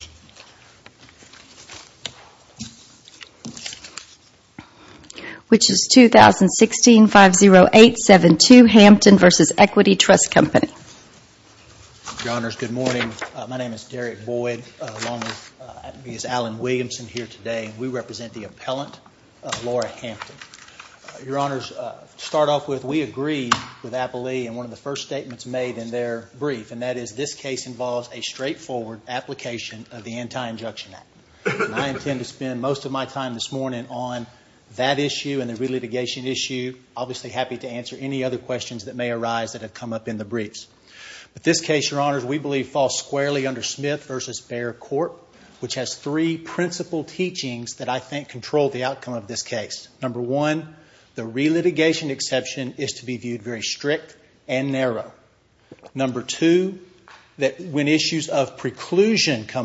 Good morning. My name is Derek Boyd along with Ms. Allen Williamson here today. We represent the appellant, Laura Hampton. Your Honors, to start off with, we agreed with Appalee in one of the first statements made in their brief and that is this case involves a straightforward application of the Anti-Injection Act. I intend to spend most of my time this morning on that issue and the re-litigation issue. Obviously happy to answer any other questions that may arise that have come up in the briefs. But this case, Your Honors, we believe falls squarely under Smith v. Baird Court, which has three principal teachings that I think control the outcome of this case. Number one, the re-litigation exception is to be viewed very strict and come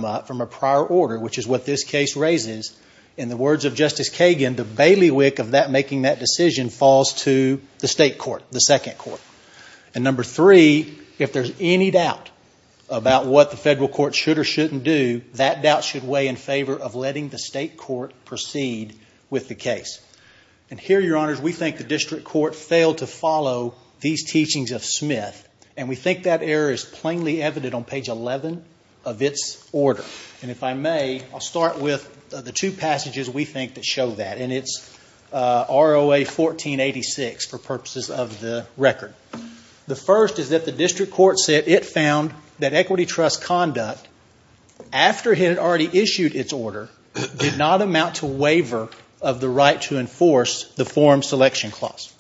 up from a prior order, which is what this case raises. In the words of Justice Kagan, the bailiwick of making that decision falls to the state court, the second court. And number three, if there's any doubt about what the federal court should or shouldn't do, that doubt should weigh in favor of letting the state court proceed with the case. And here, Your Honors, we think the district court failed to follow these teachings of Smith and we think that error is plainly evident on page 11 of its order. And if I may, I'll start with the two passages we think that show that. And it's ROA 1486 for purposes of the record. The first is that the district court said it found that equity trust conduct after it had already issued its order did not amount to waiver of the right to enforce the forum selection clause.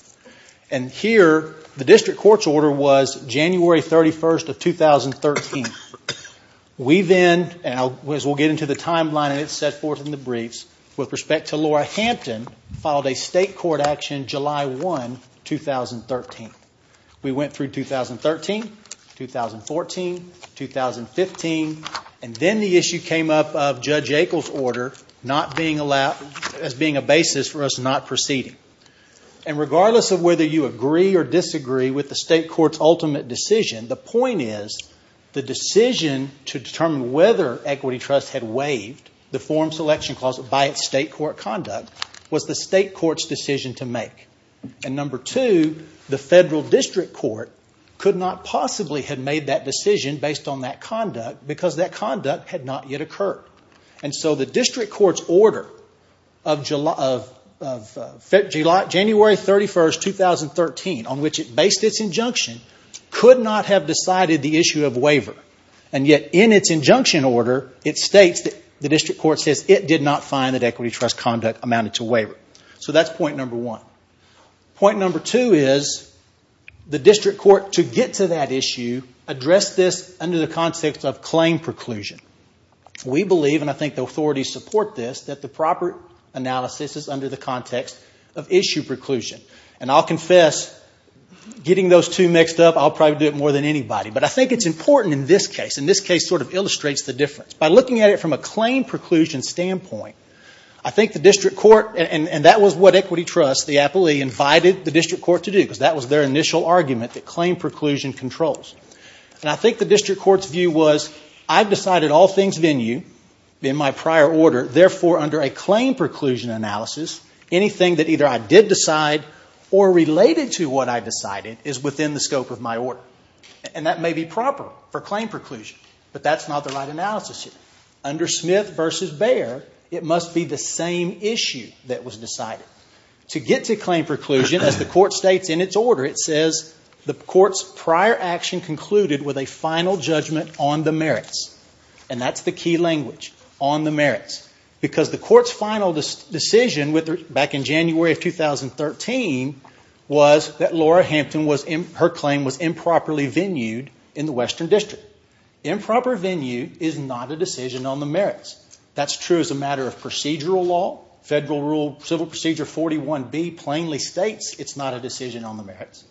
And here, the district court's order was January 31, 2013. We then, as we'll get into the timeline and it's set forth in the briefs, with respect to Laura Hampton, filed a state court action July 1, 2013. We went through 2013, 2014, 2015, and then the issue came up of Judge Akel's order not being allowed, as being a proceeding. And regardless of whether you agree or disagree with the state court's ultimate decision, the point is the decision to determine whether equity trust had waived the forum selection clause by its state court conduct was the state court's decision to make. And number two, the federal district court could not possibly have made that decision based on that conduct because that conduct had not yet occurred. And so the district court's order of January 31, 2013, on which it based its injunction, could not have decided the issue of waiver. And yet, in its injunction order, it states that the district court says it did not find that equity trust conduct amounted to waiver. So that's point number one. Point number two is the district court, to get to that issue, addressed this under the context of claim preclusion. We believe, and I think the authorities support this, that the proper analysis is under the context of issue preclusion. And I'll confess, getting those two mixed up, I'll probably do it more than anybody. But I think it's important in this case, and this case sort of illustrates the difference. By looking at it from a claim preclusion standpoint, I think the district court, and that was what equity trust, the appellee, invited the district court to do, because that was their initial argument that claim preclusion controls. And I think the district court's view was, I've decided all under a claim preclusion analysis, anything that either I did decide, or related to what I decided, is within the scope of my order. And that may be proper for claim preclusion, but that's not the right analysis here. Under Smith v. Bayer, it must be the same issue that was decided. To get to claim preclusion, as the court states in its order, it says, the court's prior action concluded with a final judgment on the merits. And that's the key language, on the merits. Because the court's final decision back in January of 2013 was that Laura Hampton, her claim was improperly venued in the Western District. Improper venue is not a decision on the merits. That's true as a matter of procedural law. Federal Rule Civil Procedure 41B plainly states it's not a decision on the merits.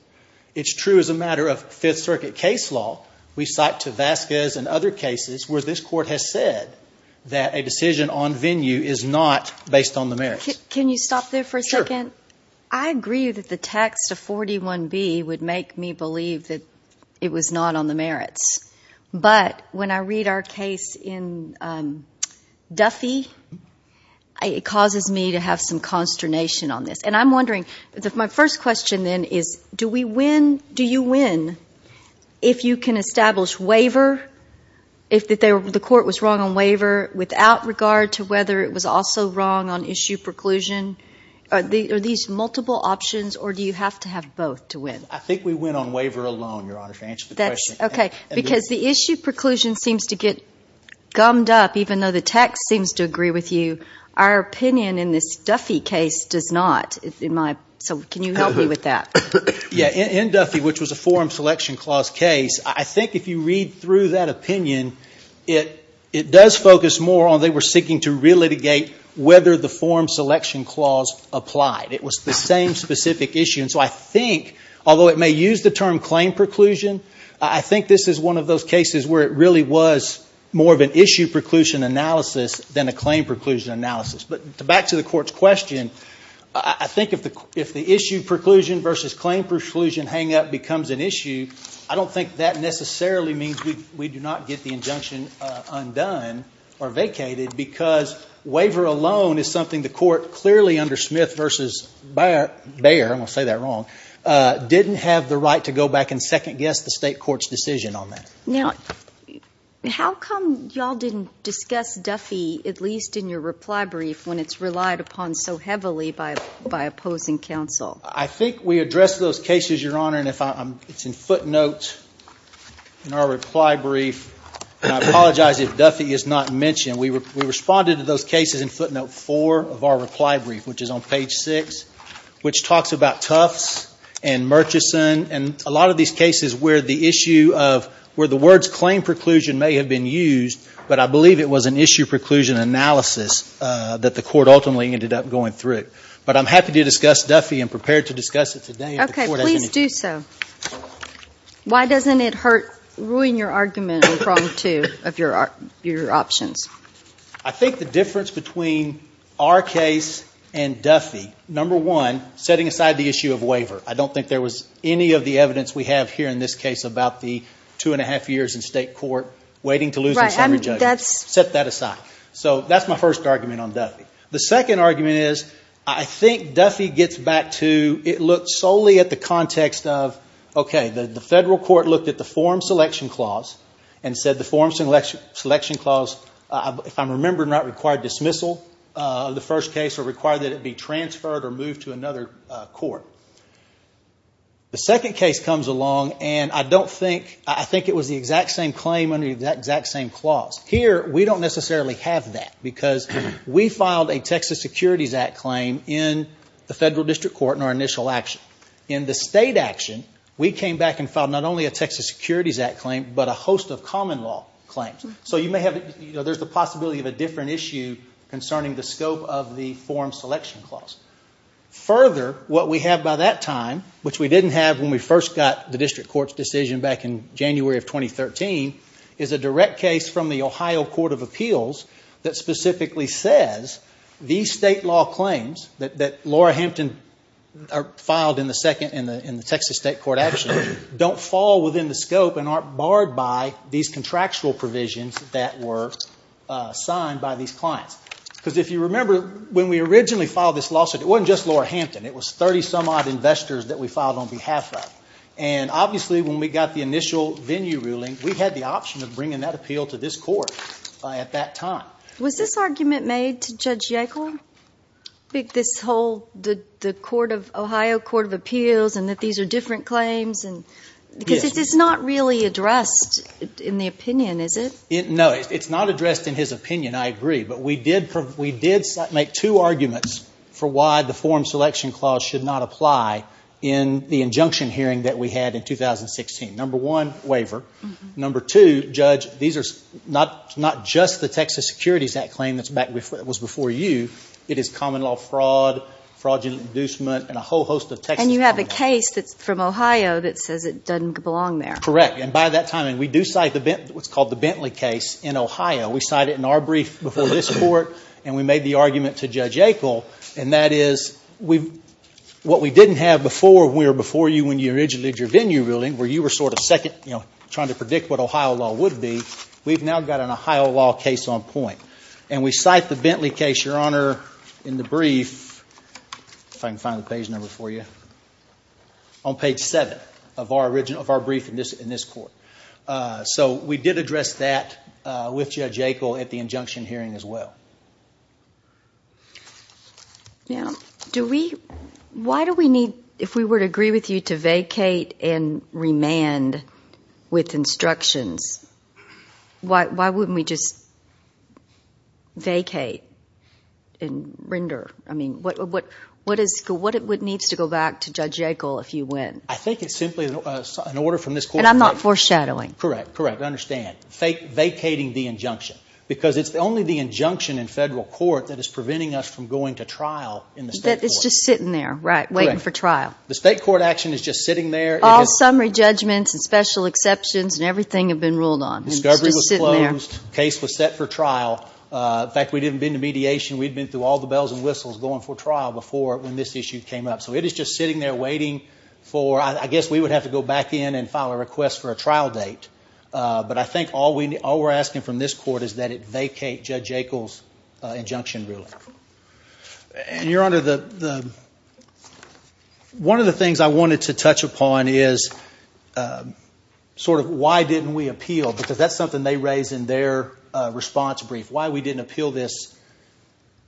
It's true as a matter of Fifth Circuit case law. We cite to Vasquez and other cases where this court has said that a decision on venue is not based on the merits. Can you stop there for a second? Sure. I agree that the text of 41B would make me believe that it was not on the merits. But when I read our case in Duffy, it causes me to have some consternation on this. And I'm wondering if you can establish waiver, if the court was wrong on waiver, without regard to whether it was also wrong on issue preclusion. Are these multiple options or do you have to have both to win? I think we went on waiver alone, Your Honor, to answer the question. Okay. Because the issue preclusion seems to get gummed up, even though the text seems to agree with you. Our opinion in this Duffy case does not. So can you help me with that? In Duffy, which was a forum selection clause case, I think if you read through that opinion, it does focus more on they were seeking to relitigate whether the forum selection clause applied. It was the same specific issue. And so I think, although it may use the term claim preclusion, I think this is one of those cases where it really was more of an issue preclusion analysis than a claim preclusion analysis. But back to the court's question, I think if the issue preclusion versus claim preclusion hangup becomes an issue, I don't think that necessarily means we do not get the injunction undone or vacated, because waiver alone is something the court clearly, under Smith v. Bayer, I'm going to say that wrong, didn't have the right to go back and second-guess the state court's decision on that. Now, how come you all didn't discuss Duffy, at least in your reply brief, when it's relied upon so heavily by opposing counsel? I think we addressed those cases, Your Honor, and it's in footnotes in our reply brief. And I apologize if Duffy is not mentioned. We responded to those cases in footnote four of our reply brief, which is on page six, which talks about Tufts and Murchison and a lot of these cases where the issue of, where the words claim preclusion may have been used, but I believe it was an issue preclusion analysis that the court ultimately ended up going through. But I'm happy to discuss Duffy and prepared to discuss it today if the court has any... Okay, please do so. Why doesn't it hurt, ruin your argument in prong two of your options? I think the difference between our case and Duffy, number one, setting aside the issue of waiver. I don't think there was any of the evidence we have here in this case about the two and a half years in state court waiting to lose in summary judgment. Set that aside. So that's my first argument on Duffy. The second argument is, I think Duffy gets back to, it looked solely at the context of, okay, the federal court looked at the form selection clause and said the form selection clause, if I'm remembering right, required dismissal of the first case or required that it be transferred or moved to another court. The second case comes along and I don't think, I think it was the exact same claim under that exact same clause. Here, we don't necessarily have that because we filed a Texas Securities Act claim in the federal district court in our initial action. In the state action, we came back and filed not only a Texas Securities Act claim, but a host of common law claims. So you may have, there's the possibility of a different issue concerning the scope of the form selection clause. Further, what we have by that time, which we didn't have when we first got the district court's decision back in January of 2013, is a direct case from the Ohio Court of Appeals that specifically says these state law claims that Laura Hampton filed in the Texas state court action don't fall within the scope and aren't barred by these contractual provisions that were signed by these clients. Because if you remember, when we originally filed this lawsuit, it wasn't just Laura Hampton. It was 30 some odd investors that we filed on behalf of. And obviously, when we got the initial venue ruling, we had the option of bringing that appeal to this court at that time. Was this argument made to Judge Yackel? This whole, the Ohio Court of Appeals and that different claims? Because it's not really addressed in the opinion, is it? No, it's not addressed in his opinion, I agree. But we did make two arguments for why the form selection clause should not apply in the injunction hearing that we had in 2016. Number one, waiver. Number two, Judge, these are not just the Texas Securities Act claim that was before you. It is common law fraud, fraudulent inducement, and a whole host of Texas common law. And you have a case that's from Ohio that says it doesn't belong there. Correct. And by that time, and we do cite what's called the Bentley case in Ohio. We cite it in our brief before this court, and we made the argument to Judge Yackel. And that is, what we didn't have before when we were before you when you originally did your venue ruling, where you were sort of second, you know, trying to predict what Ohio law would be, we've now got an Ohio law case on point. And we cite the Bentley case, Your Honor, on page seven of our original, of our brief in this court. So we did address that with Judge Yackel at the injunction hearing as well. Now, do we, why do we need, if we were to agree with you to vacate and remand with instructions, why wouldn't we just vacate and render? I mean, what is, what needs to go back to Judge Yackel if you win? I think it's simply an order from this court. And I'm not foreshadowing. Correct. Correct. I understand. Vacating the injunction. Because it's only the injunction in federal court that is preventing us from going to trial in the state court. That it's just sitting there, right, waiting for trial. The state court action is just sitting there. All summary judgments and special exceptions and everything have been ruled on. It's just sitting there. Discovery was closed. Case was set for trial. In fact, we didn't even been to mediation. We'd been through all the bells and whistles going for trial before when this issue came up. So it is just sitting there waiting for, I guess we would have to go back in and file a request for a trial date. But I think all we're asking from this court is that it vacate Judge Yackel's injunction ruling. And Your Honor, the, one of the things I wanted to touch upon is sort of why didn't we appeal? Because that's something they raised in their response brief. Why we didn't appeal this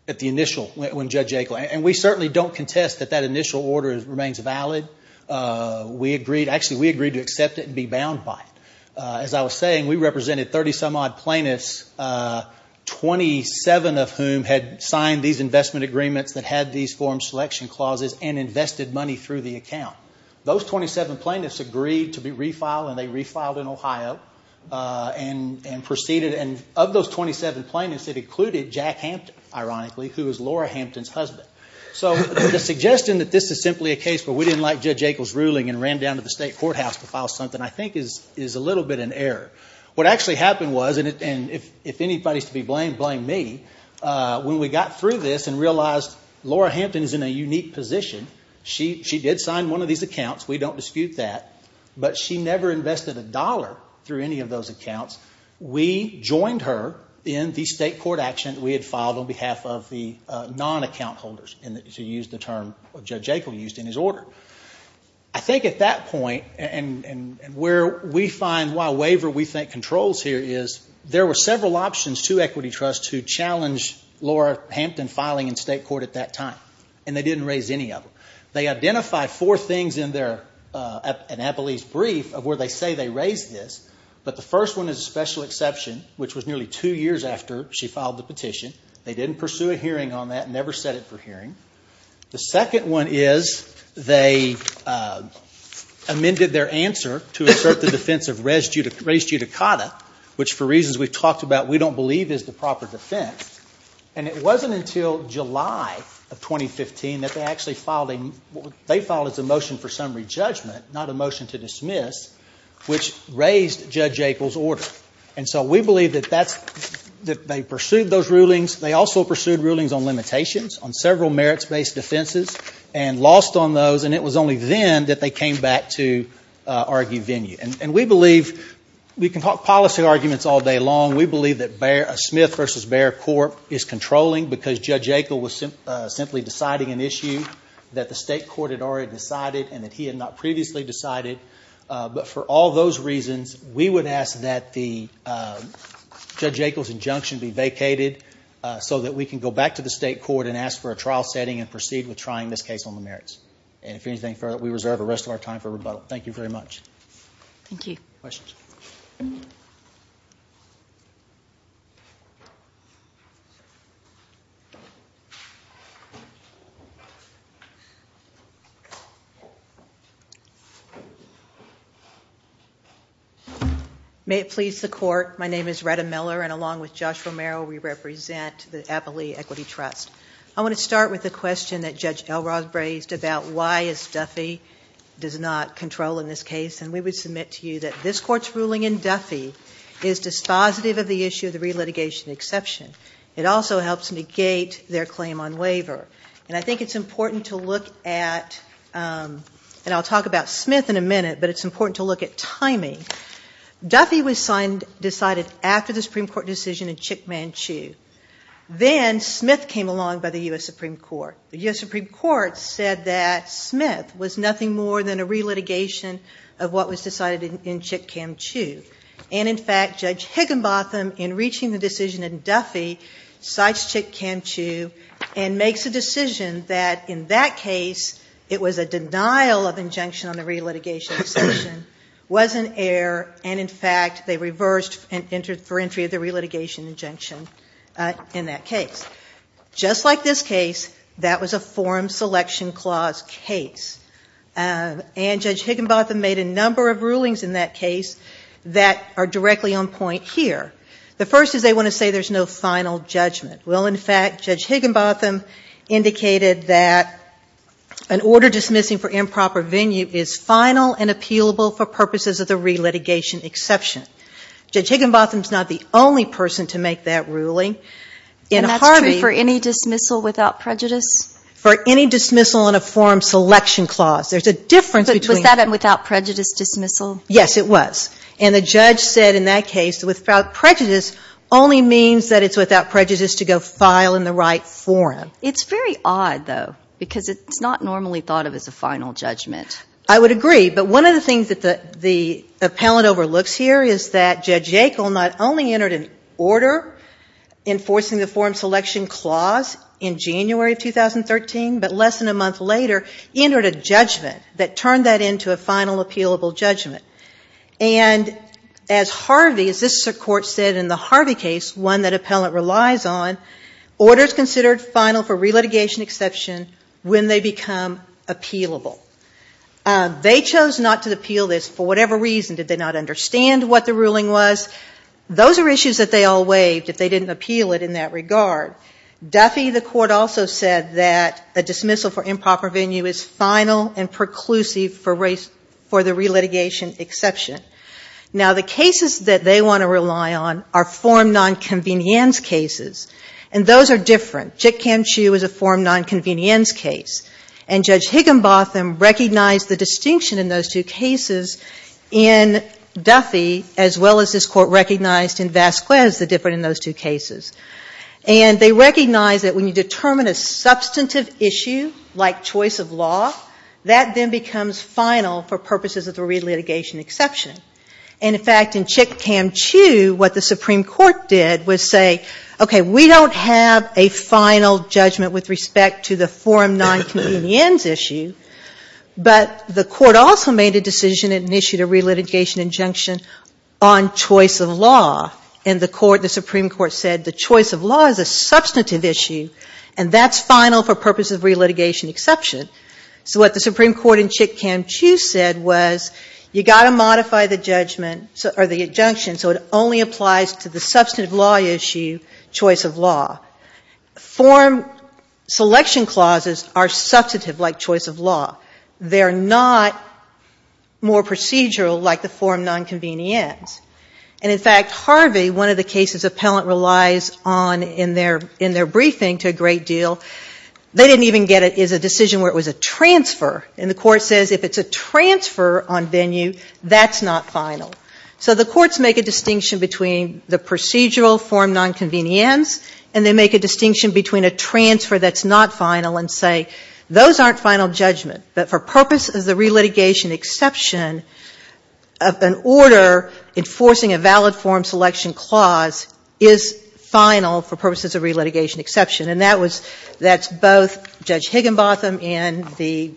at the initial, when Judge Yackel, and we certainly don't contest that that initial order remains valid. We agreed, actually we agreed to accept it and be bound by it. As I was saying, we represented 30 some odd plaintiffs, 27 of whom had signed these investment agreements that had these form selection clauses and invested money through the account. Those 27 plaintiffs agreed to be refiled and they refiled in Ohio and proceeded. And of those 27 plaintiffs, it included Jack Hampton, ironically, who is Laura Hampton's husband. So the suggestion that this is simply a case where we didn't like Judge Yackel's ruling and ran down to the state courthouse to file something I think is a little bit in error. What actually happened was, and if anybody is to be blamed, blame me, when we got through this and realized Laura Hampton is in a unique position, she did sign one of these accounts, we don't dispute that, but she never invested a dollar through any of those accounts. We joined her in the state court action that we had filed on behalf of the non-account holders, to use the term Judge Yackel used in his order. I think at that point, and where we find why waiver, we think, controls here is, there were several options to equity trusts who challenged Laura Hampton filing in state court at that time. And they didn't raise any of them. They identified four things in their, in Abilene's brief, of where they say they raised this, but the first one is a special exception, which was nearly two years after she filed the petition. They didn't pursue a hearing on that, never set it for hearing. The second one is, they amended their answer to assert the defense of res judicata, which for reasons we've talked about, we don't believe is the proper defense. And it wasn't until July of 2015 that they actually filed a, they filed a motion for summary judgment, not a motion to dismiss, which raised Judge Yackel's order. And so we believe that that's, that they pursued those rulings. They also pursued rulings on limitations, on several merits-based defenses, and lost on those. And it was only then that they came back to argue venue. And we believe, we can talk policy arguments all day long, we believe that Smith versus Behr court is controlling because Judge Yackel was simply deciding an issue that the state court had already decided, and that he had not previously decided. But for all those reasons, we would ask that the Judge Yackel's injunction be vacated, so that we can go back to the state court and ask for a trial setting and proceed with trying this case on the merits. And if anything, we reserve the rest of our time for rebuttal. Thank you very much. Thank you. Questions? May it please the court, my name is Retta Miller, and along with Josh Romero, we represent the Appley Equity Trust. I want to start with a question that Judge Elrod raised about why a stuffy does not control in this case. And we would submit to you that this court's ruling in Duffy is dispositive of the issue of the relitigation exception. It also helps negate their claim on waiver. And I think it's important to look at, and I'll talk about Smith in a minute, but it's important to look at timing. Duffy was decided after the Supreme Court decision in Chick Manchu. Then Smith came along by the U.S. Supreme Court. The U.S. Supreme Court said that Smith was nothing more than a relitigation of what was decided in Chick Manchu. And in fact, Judge Higginbotham, in reaching the decision in Duffy, cites Chick Manchu and makes a decision that in that case, it was a denial of injunction on the relitigation exception, was an error, and in fact, they reversed and entered for entry of the relitigation injunction in that case. Just like this case, that was a forum selection clause case. And Judge Higginbotham made a number of rulings in that case that are directly on point here. The first is they want to say there's no final judgment. Well, in fact, Judge Higginbotham indicated that an order dismissing for improper venue is final and appealable for purposes of the relitigation exception. Judge Higginbotham's not the only person to make that ruling. And that's true for any dismissal without prejudice? For any dismissal on a forum selection clause. There's a difference between... Was that a without prejudice dismissal? Yes, it was. And the judge said in that case, without prejudice only means that it's without prejudice to go file in the right forum. It's very odd, though, because it's not normally thought of as a final judgment. I would agree. But one of the things that the appellant overlooks here is that Judge Yackel not only entered an order enforcing the forum selection clause in January of 2013, but less than a month later entered a judgment that turned that into a final appealable judgment. And as Harvey, as this court said in the Harvey case, one that appellant relies on, orders considered final for relitigation exception when they become appealable. They chose not to appeal this for whatever reason. Did they not understand what the ruling was? Those are issues that they all waived if they didn't appeal it in that regard. Duffy, the court also said that a dismissal for improper venue is final and preclusive for the relitigation exception. Now, the cases that they want to rely on are forum nonconvenience cases. And those are different. Chick Kam Chu is a forum nonconvenience case. And Judge Higginbotham recognized the distinction in those two cases in Duffy as well as this court recognized in Vasquez the difference in those two cases. And they recognized that when you determine a substantive issue like choice of law, that then becomes final for purposes of the relitigation exception. And in fact, in Chick Kam Chu, what the Supreme Court did was say, okay, we don't have a final judgment with respect to the forum nonconvenience issue, but the court also made a decision and issued a relitigation injunction on choice of law. And the Supreme Court said the choice of law is a substantive issue, and that's final for purposes of relitigation exception. So what the Supreme Court in Chick Kam Chu said was, you got to modify the injunction so it only applies to the substantive law issue, choice of law. Forum selection clauses are substantive like choice of law. They're not more procedural like the forum nonconvenience. And in fact, Harvey, one of the cases appellant relies on in their briefing to a great deal, they didn't even get it as a decision where it was a transfer. And the court says if it's a transfer on venue, that's not final. So the courts make a distinction between the procedural forum nonconvenience, and they But for purposes of relitigation exception, an order enforcing a valid forum selection clause is final for purposes of relitigation exception. And that was, that's both Judge Higginbotham in the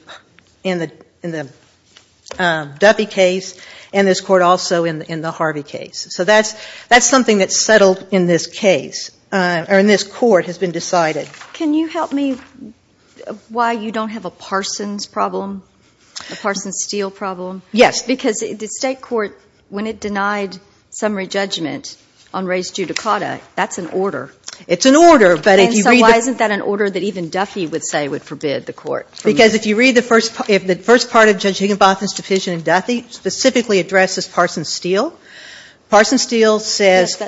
Duffy case, and this court also in the Harvey case. So that's something that's settled in this case, or in this court has been decided. Can you help me why you don't have a Parsons problem, a Parsons-Steele problem? Yes. Because the State court, when it denied summary judgment on res judicata, that's an order. It's an order, but if you read the And so why isn't that an order that even Duffy would say would forbid the court from Because if you read the first part of Judge Higginbotham's decision in Duffy, it specifically addresses Parsons-Steele. Parsons-Steele says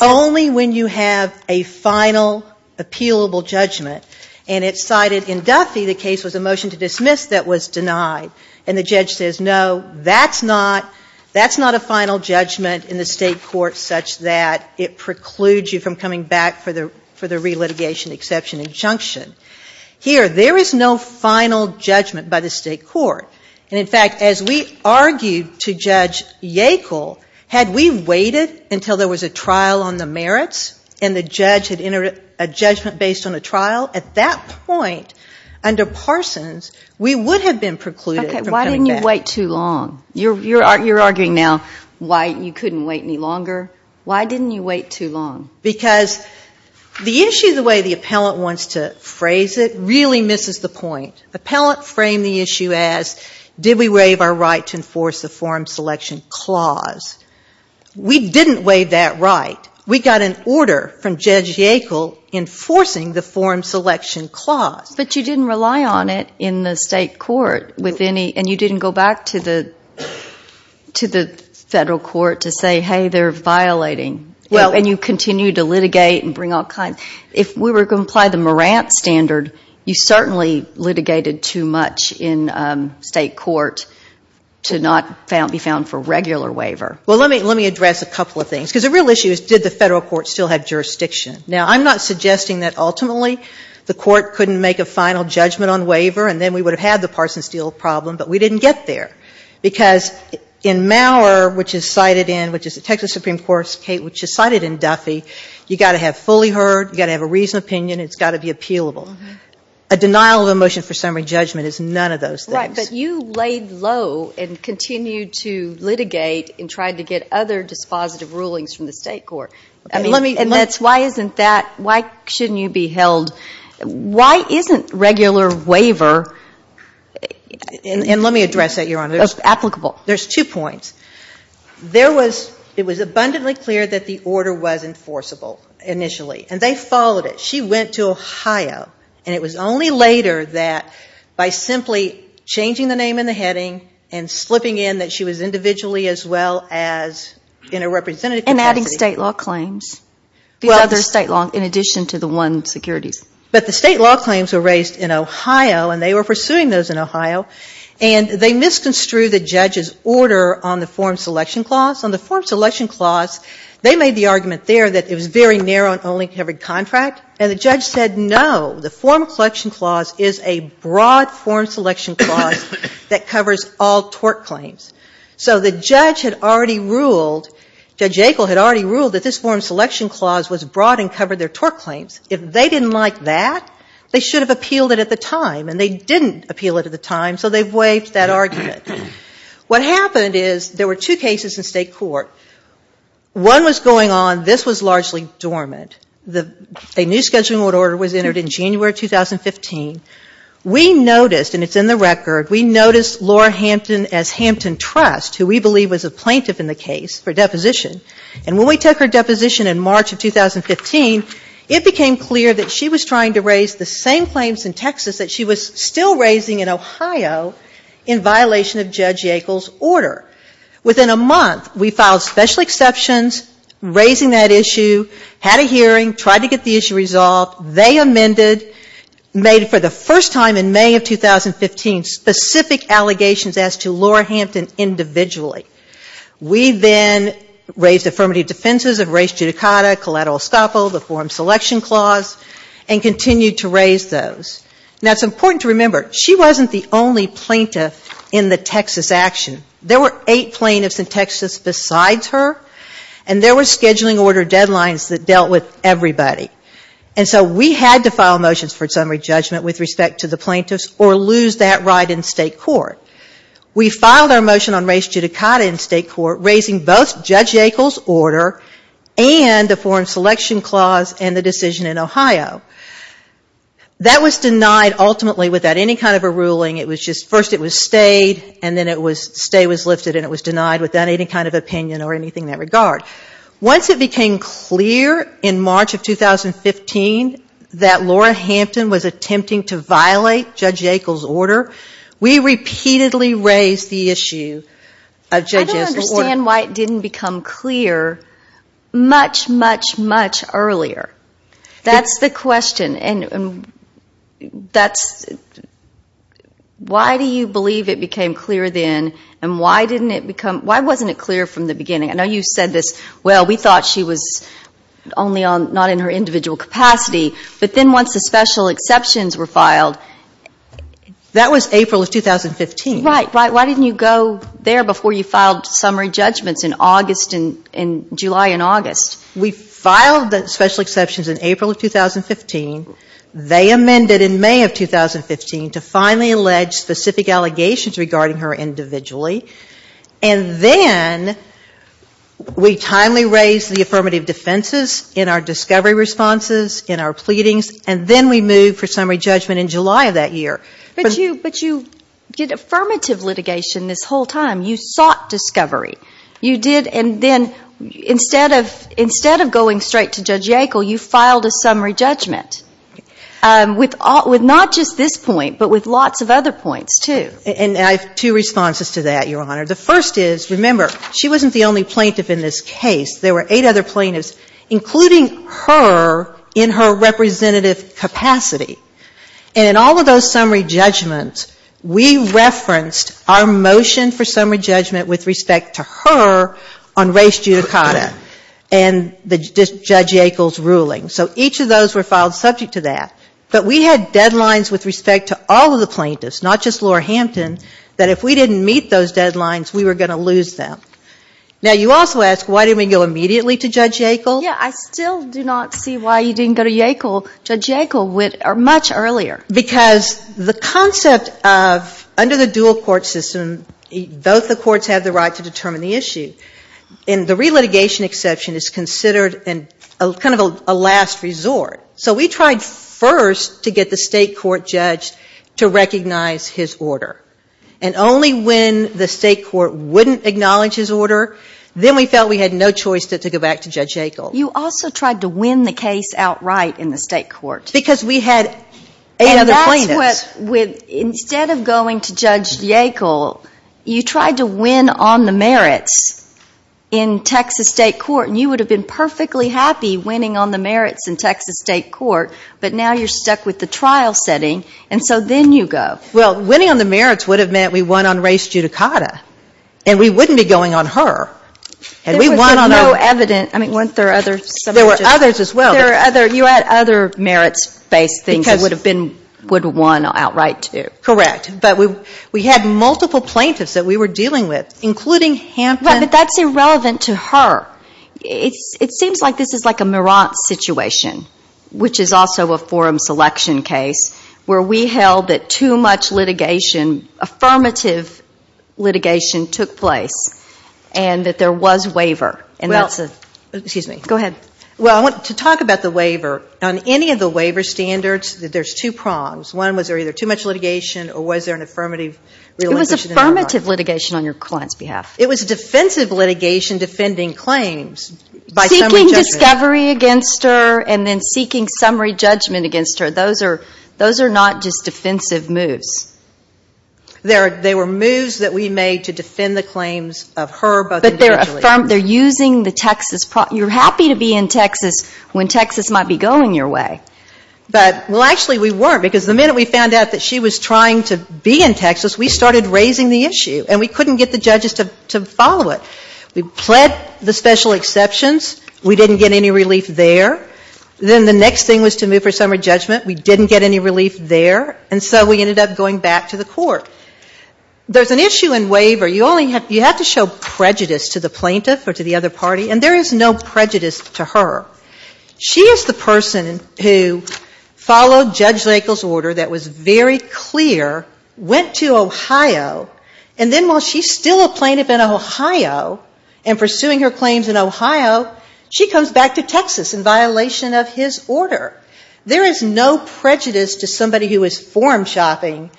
only when you have a final appealable judgment, and it's cited in Duffy, the case was a motion to dismiss that was denied. And the judge says, no, that's not a final judgment in the State court such that it precludes you from coming back for the relitigation exception injunction. Here, there is no final judgment by the State court. And in fact, as we argued to Judge Yackel, had we waited until there was a trial on the merits, and the judge had entered a judgment based on a trial, at that point, under Parsons, we would have been precluded from coming back. Okay, why didn't you wait too long? You're arguing now why you couldn't wait any longer. Why didn't you wait too long? Because the issue, the way the appellant wants to phrase it, really misses the point. Appellant framed the issue as, did we waive our right to enforce the forum selection clause? We didn't waive that right. We got an order from Judge Yackel enforcing the forum selection clause. But you didn't rely on it in the State court with any, and you didn't go back to the Federal court to say, hey, they're violating. Well, and you continued to litigate and bring all kinds. If we were going to apply the Morant standard, you certainly litigated too much in State court to not be found for regular waiver. Well, let me address a couple of things, because the real issue is, did the Federal court still have jurisdiction? Now, I'm not suggesting that ultimately the court couldn't make a final judgment on waiver, and then we would have had the Parsons deal problem, but we didn't get there. Because in Maurer, which is cited in, which is the Texas Supreme Court's case, which is cited in Duffy, you've got to have fully heard, you've got to have a reasoned opinion, it's got to be appealable. A denial of a motion for summary judgment is none of those things. Right, but you laid low and continued to litigate and tried to get other dispositive rulings from the State court. I mean, and that's why isn't that, why shouldn't you be held, why isn't regular waiver, and let me address that, Your Honor. That's applicable. There's two points. There was, it was abundantly clear that the order was enforceable initially, and they followed it. She went to Ohio, and it was only later that by simply changing the name and the heading and slipping in that she was individually as well as in a representative capacity. And adding State law claims. These other State law, in addition to the one securities. But the State law claims were raised in Ohio, and they were pursuing those in Ohio, and they misconstrued the judge's order on the form selection clause. On the form selection clause, they made the argument there that it was very narrow and only covered contract. And the judge said, no, the form selection clause is a broad form selection clause that covers all tort claims. So the judge had already ruled, Judge Yackel had already ruled that this form selection clause was broad and covered their tort claims. If they didn't like that, they should have appealed it at the time. And they didn't appeal it at the time, so they waived that argument. What happened is, there were two cases in State court. One was going on, this was largely dormant. The, a new scheduling order was entered in January of 2015. We noticed, and it's in the record, we noticed Laura Hampton as Hampton Trust, who we believe was a plaintiff in the case for deposition. And when we took her deposition in March of 2015, it became clear that she was trying to raise the same claims in Texas that she was still raising in Ohio, in violation of Judge Yackel's order. Within a month, we filed special exceptions, raising that issue, had a hearing, tried to get the issue resolved. They amended, made for the first time in May of 2015, specific allegations as to Laura Hampton individually. We then raised affirmative defenses of race judicata, collateral escapo, the forum selection clause, and continued to raise those. Now, it's important to remember, she wasn't the only plaintiff in the Texas action. There were eight plaintiffs in Texas besides her, and there were scheduling order deadlines that dealt with everybody. And so, we had to file motions for summary judgment with respect to the plaintiffs, or lose that right in State court. We filed our motion on race judicata in State court, raising both Judge Yackel's order, and the forum selection clause, and the decision in Ohio. That was denied, ultimately, without any kind of a ruling. It was just, first it was stayed, and then it was, stay was lifted, and it was denied without any kind of opinion or anything in that regard. Once it became clear, in March of 2015, that Laura Hampton was attempting to violate Judge Yackel's order, we repeatedly raised the issue of Judge Yackel's order. I don't understand why it didn't become clear much, much, much earlier. That's the question, and that's, why do you believe it became clear then, and why didn't it become, why wasn't it clear from the beginning? I know you said this, well, we thought she was only on, not in her individual capacity, but then once the special exceptions were filed. That was April of 2015. Right, right. Why didn't you go there before you filed summary judgments in August, in July and August? We filed the special exceptions in April of 2015. They amended in May of 2015 to finally allege specific allegations regarding her individually. And then we timely raised the affirmative defenses in our discovery responses, in our pleadings, and then we moved for summary judgment in July of that year. But you did affirmative litigation this whole time. You sought discovery. You did, and then instead of going straight to Judge Yackel, you filed a summary judgment. With not just this point, but with lots of other points, too. And I have two responses to that, Your Honor. The first is, remember, she wasn't the only plaintiff in this case. There were eight other plaintiffs, including her in her representative capacity. And in all of those summary judgments, we referenced our motion for summary judgment with respect to her on race judicata, and Judge Yackel's ruling. So each of those were filed subject to that. But we had deadlines with respect to all of the plaintiffs, not just Laura Hampton, that if we didn't meet those deadlines, we were going to lose them. Now, you also ask, why didn't we go immediately to Judge Yackel? Yeah, I still do not see why you didn't go to Yackel. Judge Yackel went much earlier. Because the concept of, under the dual court system, both the courts have the right to determine the issue. And the relitigation exception is considered kind of a last resort. So we tried first to get the state court judge to recognize his order. And only when the state court wouldn't acknowledge his order, then we felt we had no choice but to go back to Judge Yackel. You also tried to win the case outright in the state court. Because we had eight other plaintiffs. And that's what, instead of going to Judge Yackel, you tried to win on the merits in Texas state court. And you would have been perfectly happy winning on the merits in Texas state court. But now you're stuck with the trial setting. And so then you go. Well, winning on the merits would have meant we won on race judicata. And we wouldn't be going on her. There was no evidence. I mean, weren't there others? There were others as well. You had other merits-based things that would have won outright too. Correct. But we had multiple plaintiffs that we were dealing with, including Hampton. But that's irrelevant to her. It seems like this is like a Merant situation, which is also a forum selection case, where we held that too much litigation, affirmative litigation, took place and that there was waiver. And that's a ‑‑ Well, excuse me. Go ahead. Well, to talk about the waiver, on any of the waiver standards, there's two prongs. One was there either too much litigation or was there an affirmative ‑‑ It was affirmative litigation on your client's behalf. It was defensive litigation defending claims by summary judgment. Seeking discovery against her and then seeking summary judgment against her. Those are not just defensive moves. They were moves that we made to defend the claims of her, but individually. But they're using the Texas ‑‑ you're happy to be in Texas when Texas might be going your way. But, well, actually we weren't. Because the minute we found out that she was trying to be in Texas, we started raising the issue. And we couldn't get the judges to follow it. We pled the special exceptions. We didn't get any relief there. Then the next thing was to move her summary judgment. We didn't get any relief there. And so we ended up going back to the court. There's an issue in waiver. You only have ‑‑ you have to show prejudice to the plaintiff or to the other party. And there is no prejudice to her. She is the person who followed Judge Lakel's order that was very clear, went to Ohio, and then while she's still a plaintiff in Ohio and pursuing her claims in Ohio, she comes back to Texas in violation of his order. There is no prejudice to somebody who is form shopping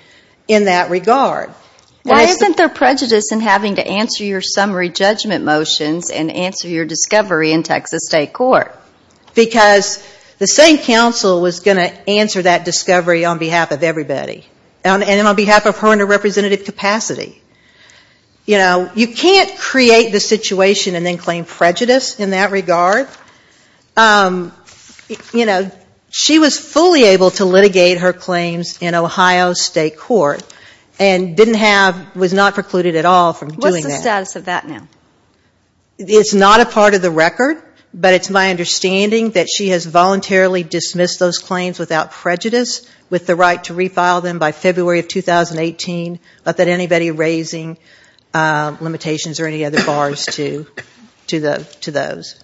in that regard. Why isn't there prejudice in having to answer your summary judgment motions and answer your discovery in Texas State Court? Because the same counsel was going to answer that discovery on behalf of everybody. And on behalf of her under representative capacity. You know, you can't create the situation and then claim prejudice in that regard. You know, she was fully able to litigate her claims in Ohio State Court and didn't have ‑‑ was not precluded at all from doing that. What's the status of that now? It's not a part of the record, but it's my understanding that she has voluntarily dismissed those claims without prejudice with the right to refile them by February of 2018. Not that anybody raising limitations or any other bars to those.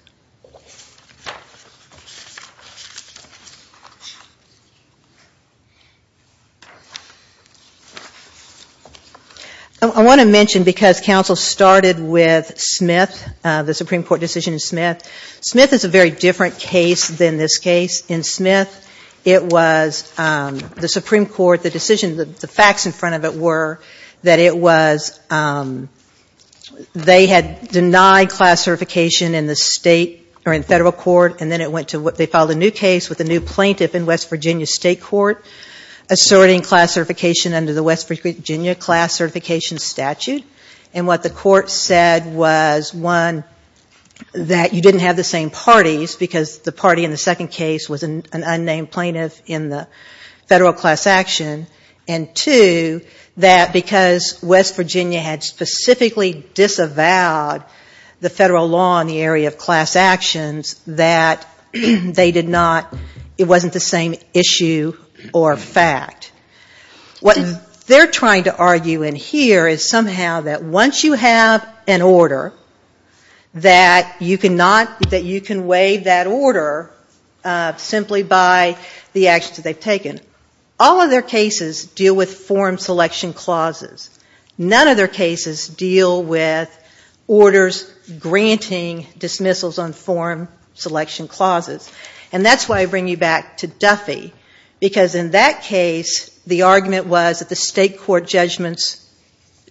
I want to mention because counsel started with Smith, the Supreme Court decision in Smith. Smith is a very different case than this case. In Smith, it was the Supreme Court, the decision, the facts in front of it were that it was ‑‑ they had denied class certification in the state or in federal court and then it went to ‑‑ they filed a new case with a new plaintiff in West Virginia State Court asserting class certification under the West Virginia class certification statute. And what the court said was, one, that you didn't have the same parties because the party in the second case was an unnamed plaintiff in the federal class action. And two, that because West Virginia had specifically disavowed the federal law in the area of class actions, that they did not ‑‑ it wasn't the same issue or fact. What they're trying to argue in here is somehow that once you have an order, that you cannot ‑‑ that you can waive that order simply by the actions that they've taken. All of their cases deal with form selection clauses. None of their cases deal with orders granting dismissals on form selection clauses. And that's why I bring you back to Duffy, because in that case the argument was that the state court judgments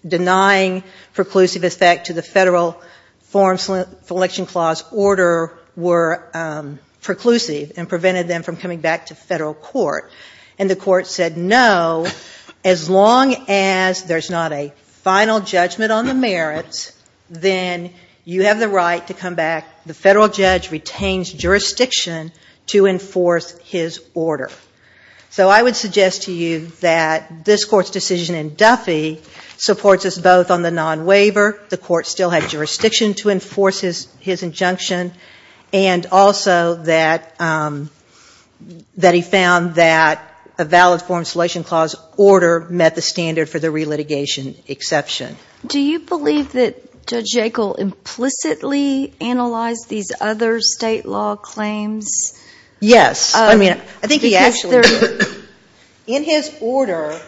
denying preclusive effect to the federal form selection clause order were preclusive and prevented them from coming back to federal court. And the court said, no, as long as there's not a final judgment on the merits, then you have the right to come back. The federal judge retains jurisdiction to enforce his order. So I would suggest to you that this court's decision in Duffy supports us both on the non‑waiver, the court still had jurisdiction to enforce his injunction, and also that he found that a valid form selection clause order met the standard for the relitigation exception. Do you believe that Judge Yackel implicitly analyzed these other state law claims? Yes. I mean, I think he actually did. In his order,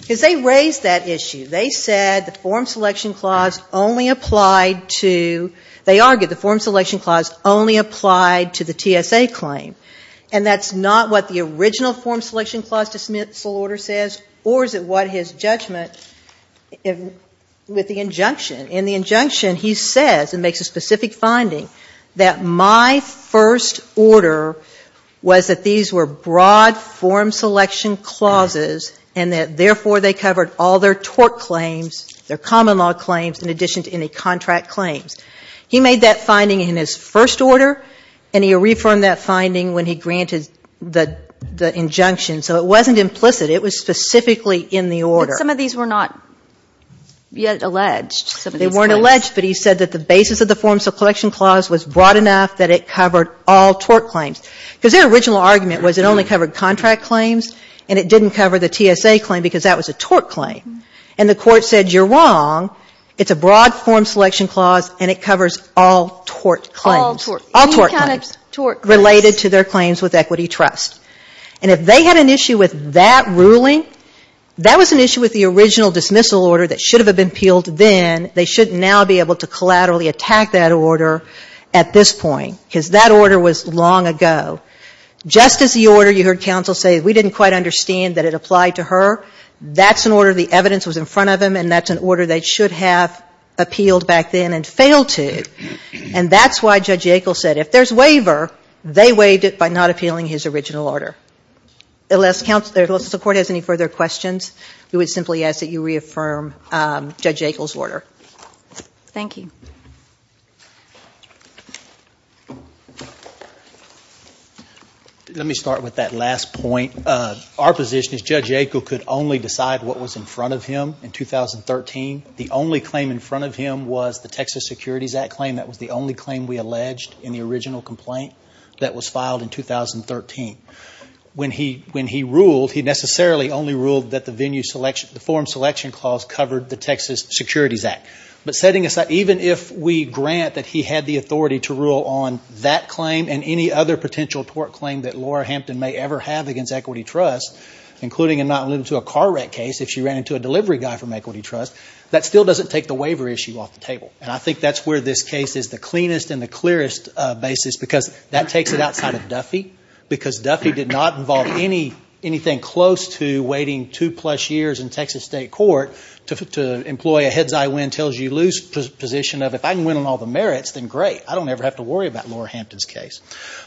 because they raised that issue. They said the form selection clause only applied to the TSA claim. And that's not what the original form selection clause dismissal order says, or is it what his judgment with the injunction. In the injunction he says, and makes a specific finding, that my first order was that these were broad form selection clauses, and that therefore they covered all their tort claims, their common law claims, in addition to any contract claims. He made that finding in his first order, and he reaffirmed that finding when he granted the injunction. So it wasn't implicit. It was specifically in the order. But some of these were not yet alleged. They weren't alleged, but he said that the basis of the form selection clause was broad enough that it covered all tort claims. Because their original argument was it only covered contract claims, and it didn't cover the TSA claim, because that was a tort claim. And the court said, you're wrong, it's a broad form selection clause, and it covers all tort claims. All tort claims. Related to their claims with equity trust. And if they had an issue with that ruling, that was an issue with the original dismissal order that should have been appealed then. They should now be able to collaterally attack that order at this point, because that order was long ago. Just as the order, you heard counsel say, we didn't quite understand that it applied to her. That's an order, the evidence was in front of him, and that's an order they should have appealed back then and failed to. And that's why Judge Yackel said if there's waiver, they waived it by not appealing his original order. Unless the court has any further questions, we would simply ask that you reaffirm Judge Yackel's order. Thank you. Let me start with that last point. Our position is Judge Yackel could only decide what was in front of him in 2013. The only claim in front of him was the Texas Securities Act claim. That was the only claim we alleged in the original complaint that was filed in 2013. When he ruled, he necessarily only ruled that the forum selection clause covered the Texas Securities Act. But setting aside, even if we grant that he had the authority to rule on that claim and any other potential tort claim that Laura Hampton may ever have against equity trust, including and not limited to a car wreck case, if she ran into a delivery guy from equity trust, that still doesn't take the waiver issue off the table. And I think that's where this case is the cleanest and the clearest basis, because that takes it outside of Duffy, because Duffy did not involve anything close to waiting two-plus years in Texas state court to employ a head's-eye win-tells-you-lose position of, if I can win on all the merits, then great, I don't ever have to worry about Laura Hampton's case.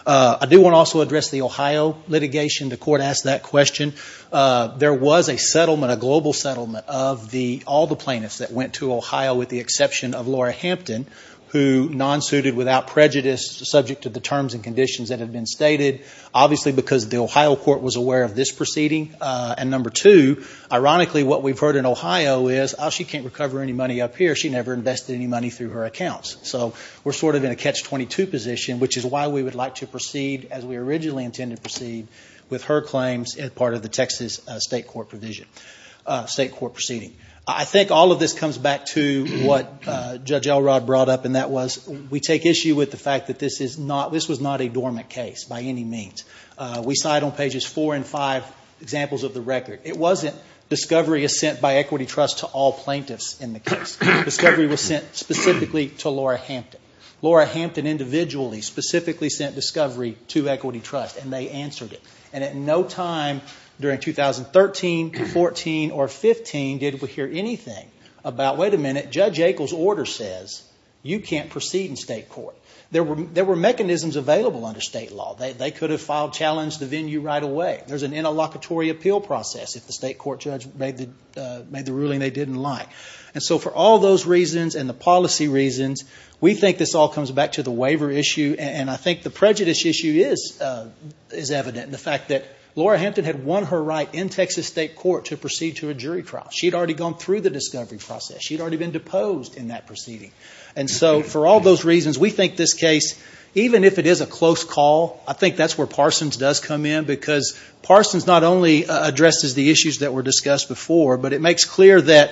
I do want to also address the Ohio litigation. The court asked that question. There was a settlement, a global settlement, of all the plaintiffs that went to Ohio with the exception of Laura Hampton, who non-suited without prejudice subject to the terms and conditions that had been stated, obviously because the Ohio court was aware of this proceeding. And number two, ironically, what we've heard in Ohio is, oh, she can't recover any money up here. She never invested any money through her accounts. So we're sort of in a catch-22 position, which is why we would like to proceed as we originally intended to proceed with her claims as part of the Texas state court proceeding. I think all of this comes back to what Judge Elrod brought up, and that was we take issue with the fact that this was not a dormant case by any means. We cite on pages four and five examples of the record. It wasn't discovery is sent by Equity Trust to all plaintiffs in the case. Discovery was sent specifically to Laura Hampton. Laura Hampton individually specifically sent Discovery to Equity Trust, and they answered it. And at no time during 2013, 14, or 15 did we hear anything about, wait a minute, Judge Akel's order says you can't proceed in state court. There were mechanisms available under state law. They could have filed challenge to venue right away. There's an interlocutory appeal process if the state court judge made the ruling they didn't like. And so for all those reasons and the policy reasons, we think this all comes back to the waiver issue. And I think the prejudice issue is evident in the fact that Laura Hampton had won her right in Texas state court to proceed to a jury trial. She had already gone through the discovery process. She had already been deposed in that proceeding. And so for all those reasons, we think this case, even if it is a close call, I think that's where Parsons does come in. Because Parsons not only addresses the issues that were discussed before, but it makes clear that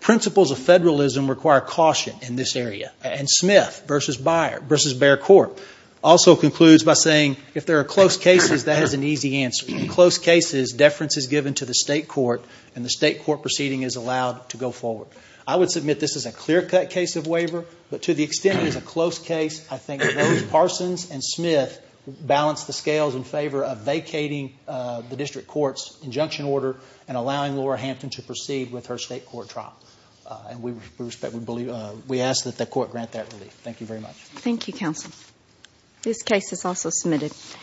principles of federalism require caution in this area. And Smith v. Bear Court also concludes by saying if there are close cases, that is an easy answer. In close cases, deference is given to the state court, and the state court proceeding is allowed to go forward. I would submit this is a clear-cut case of waiver, but to the extent it is a close case, I think those Parsons and Smith balance the scales in favor of vacating the district court's injunction order and allowing Laura Hampton to proceed with her state court trial. And we ask that the court grant that relief. Thank you very much.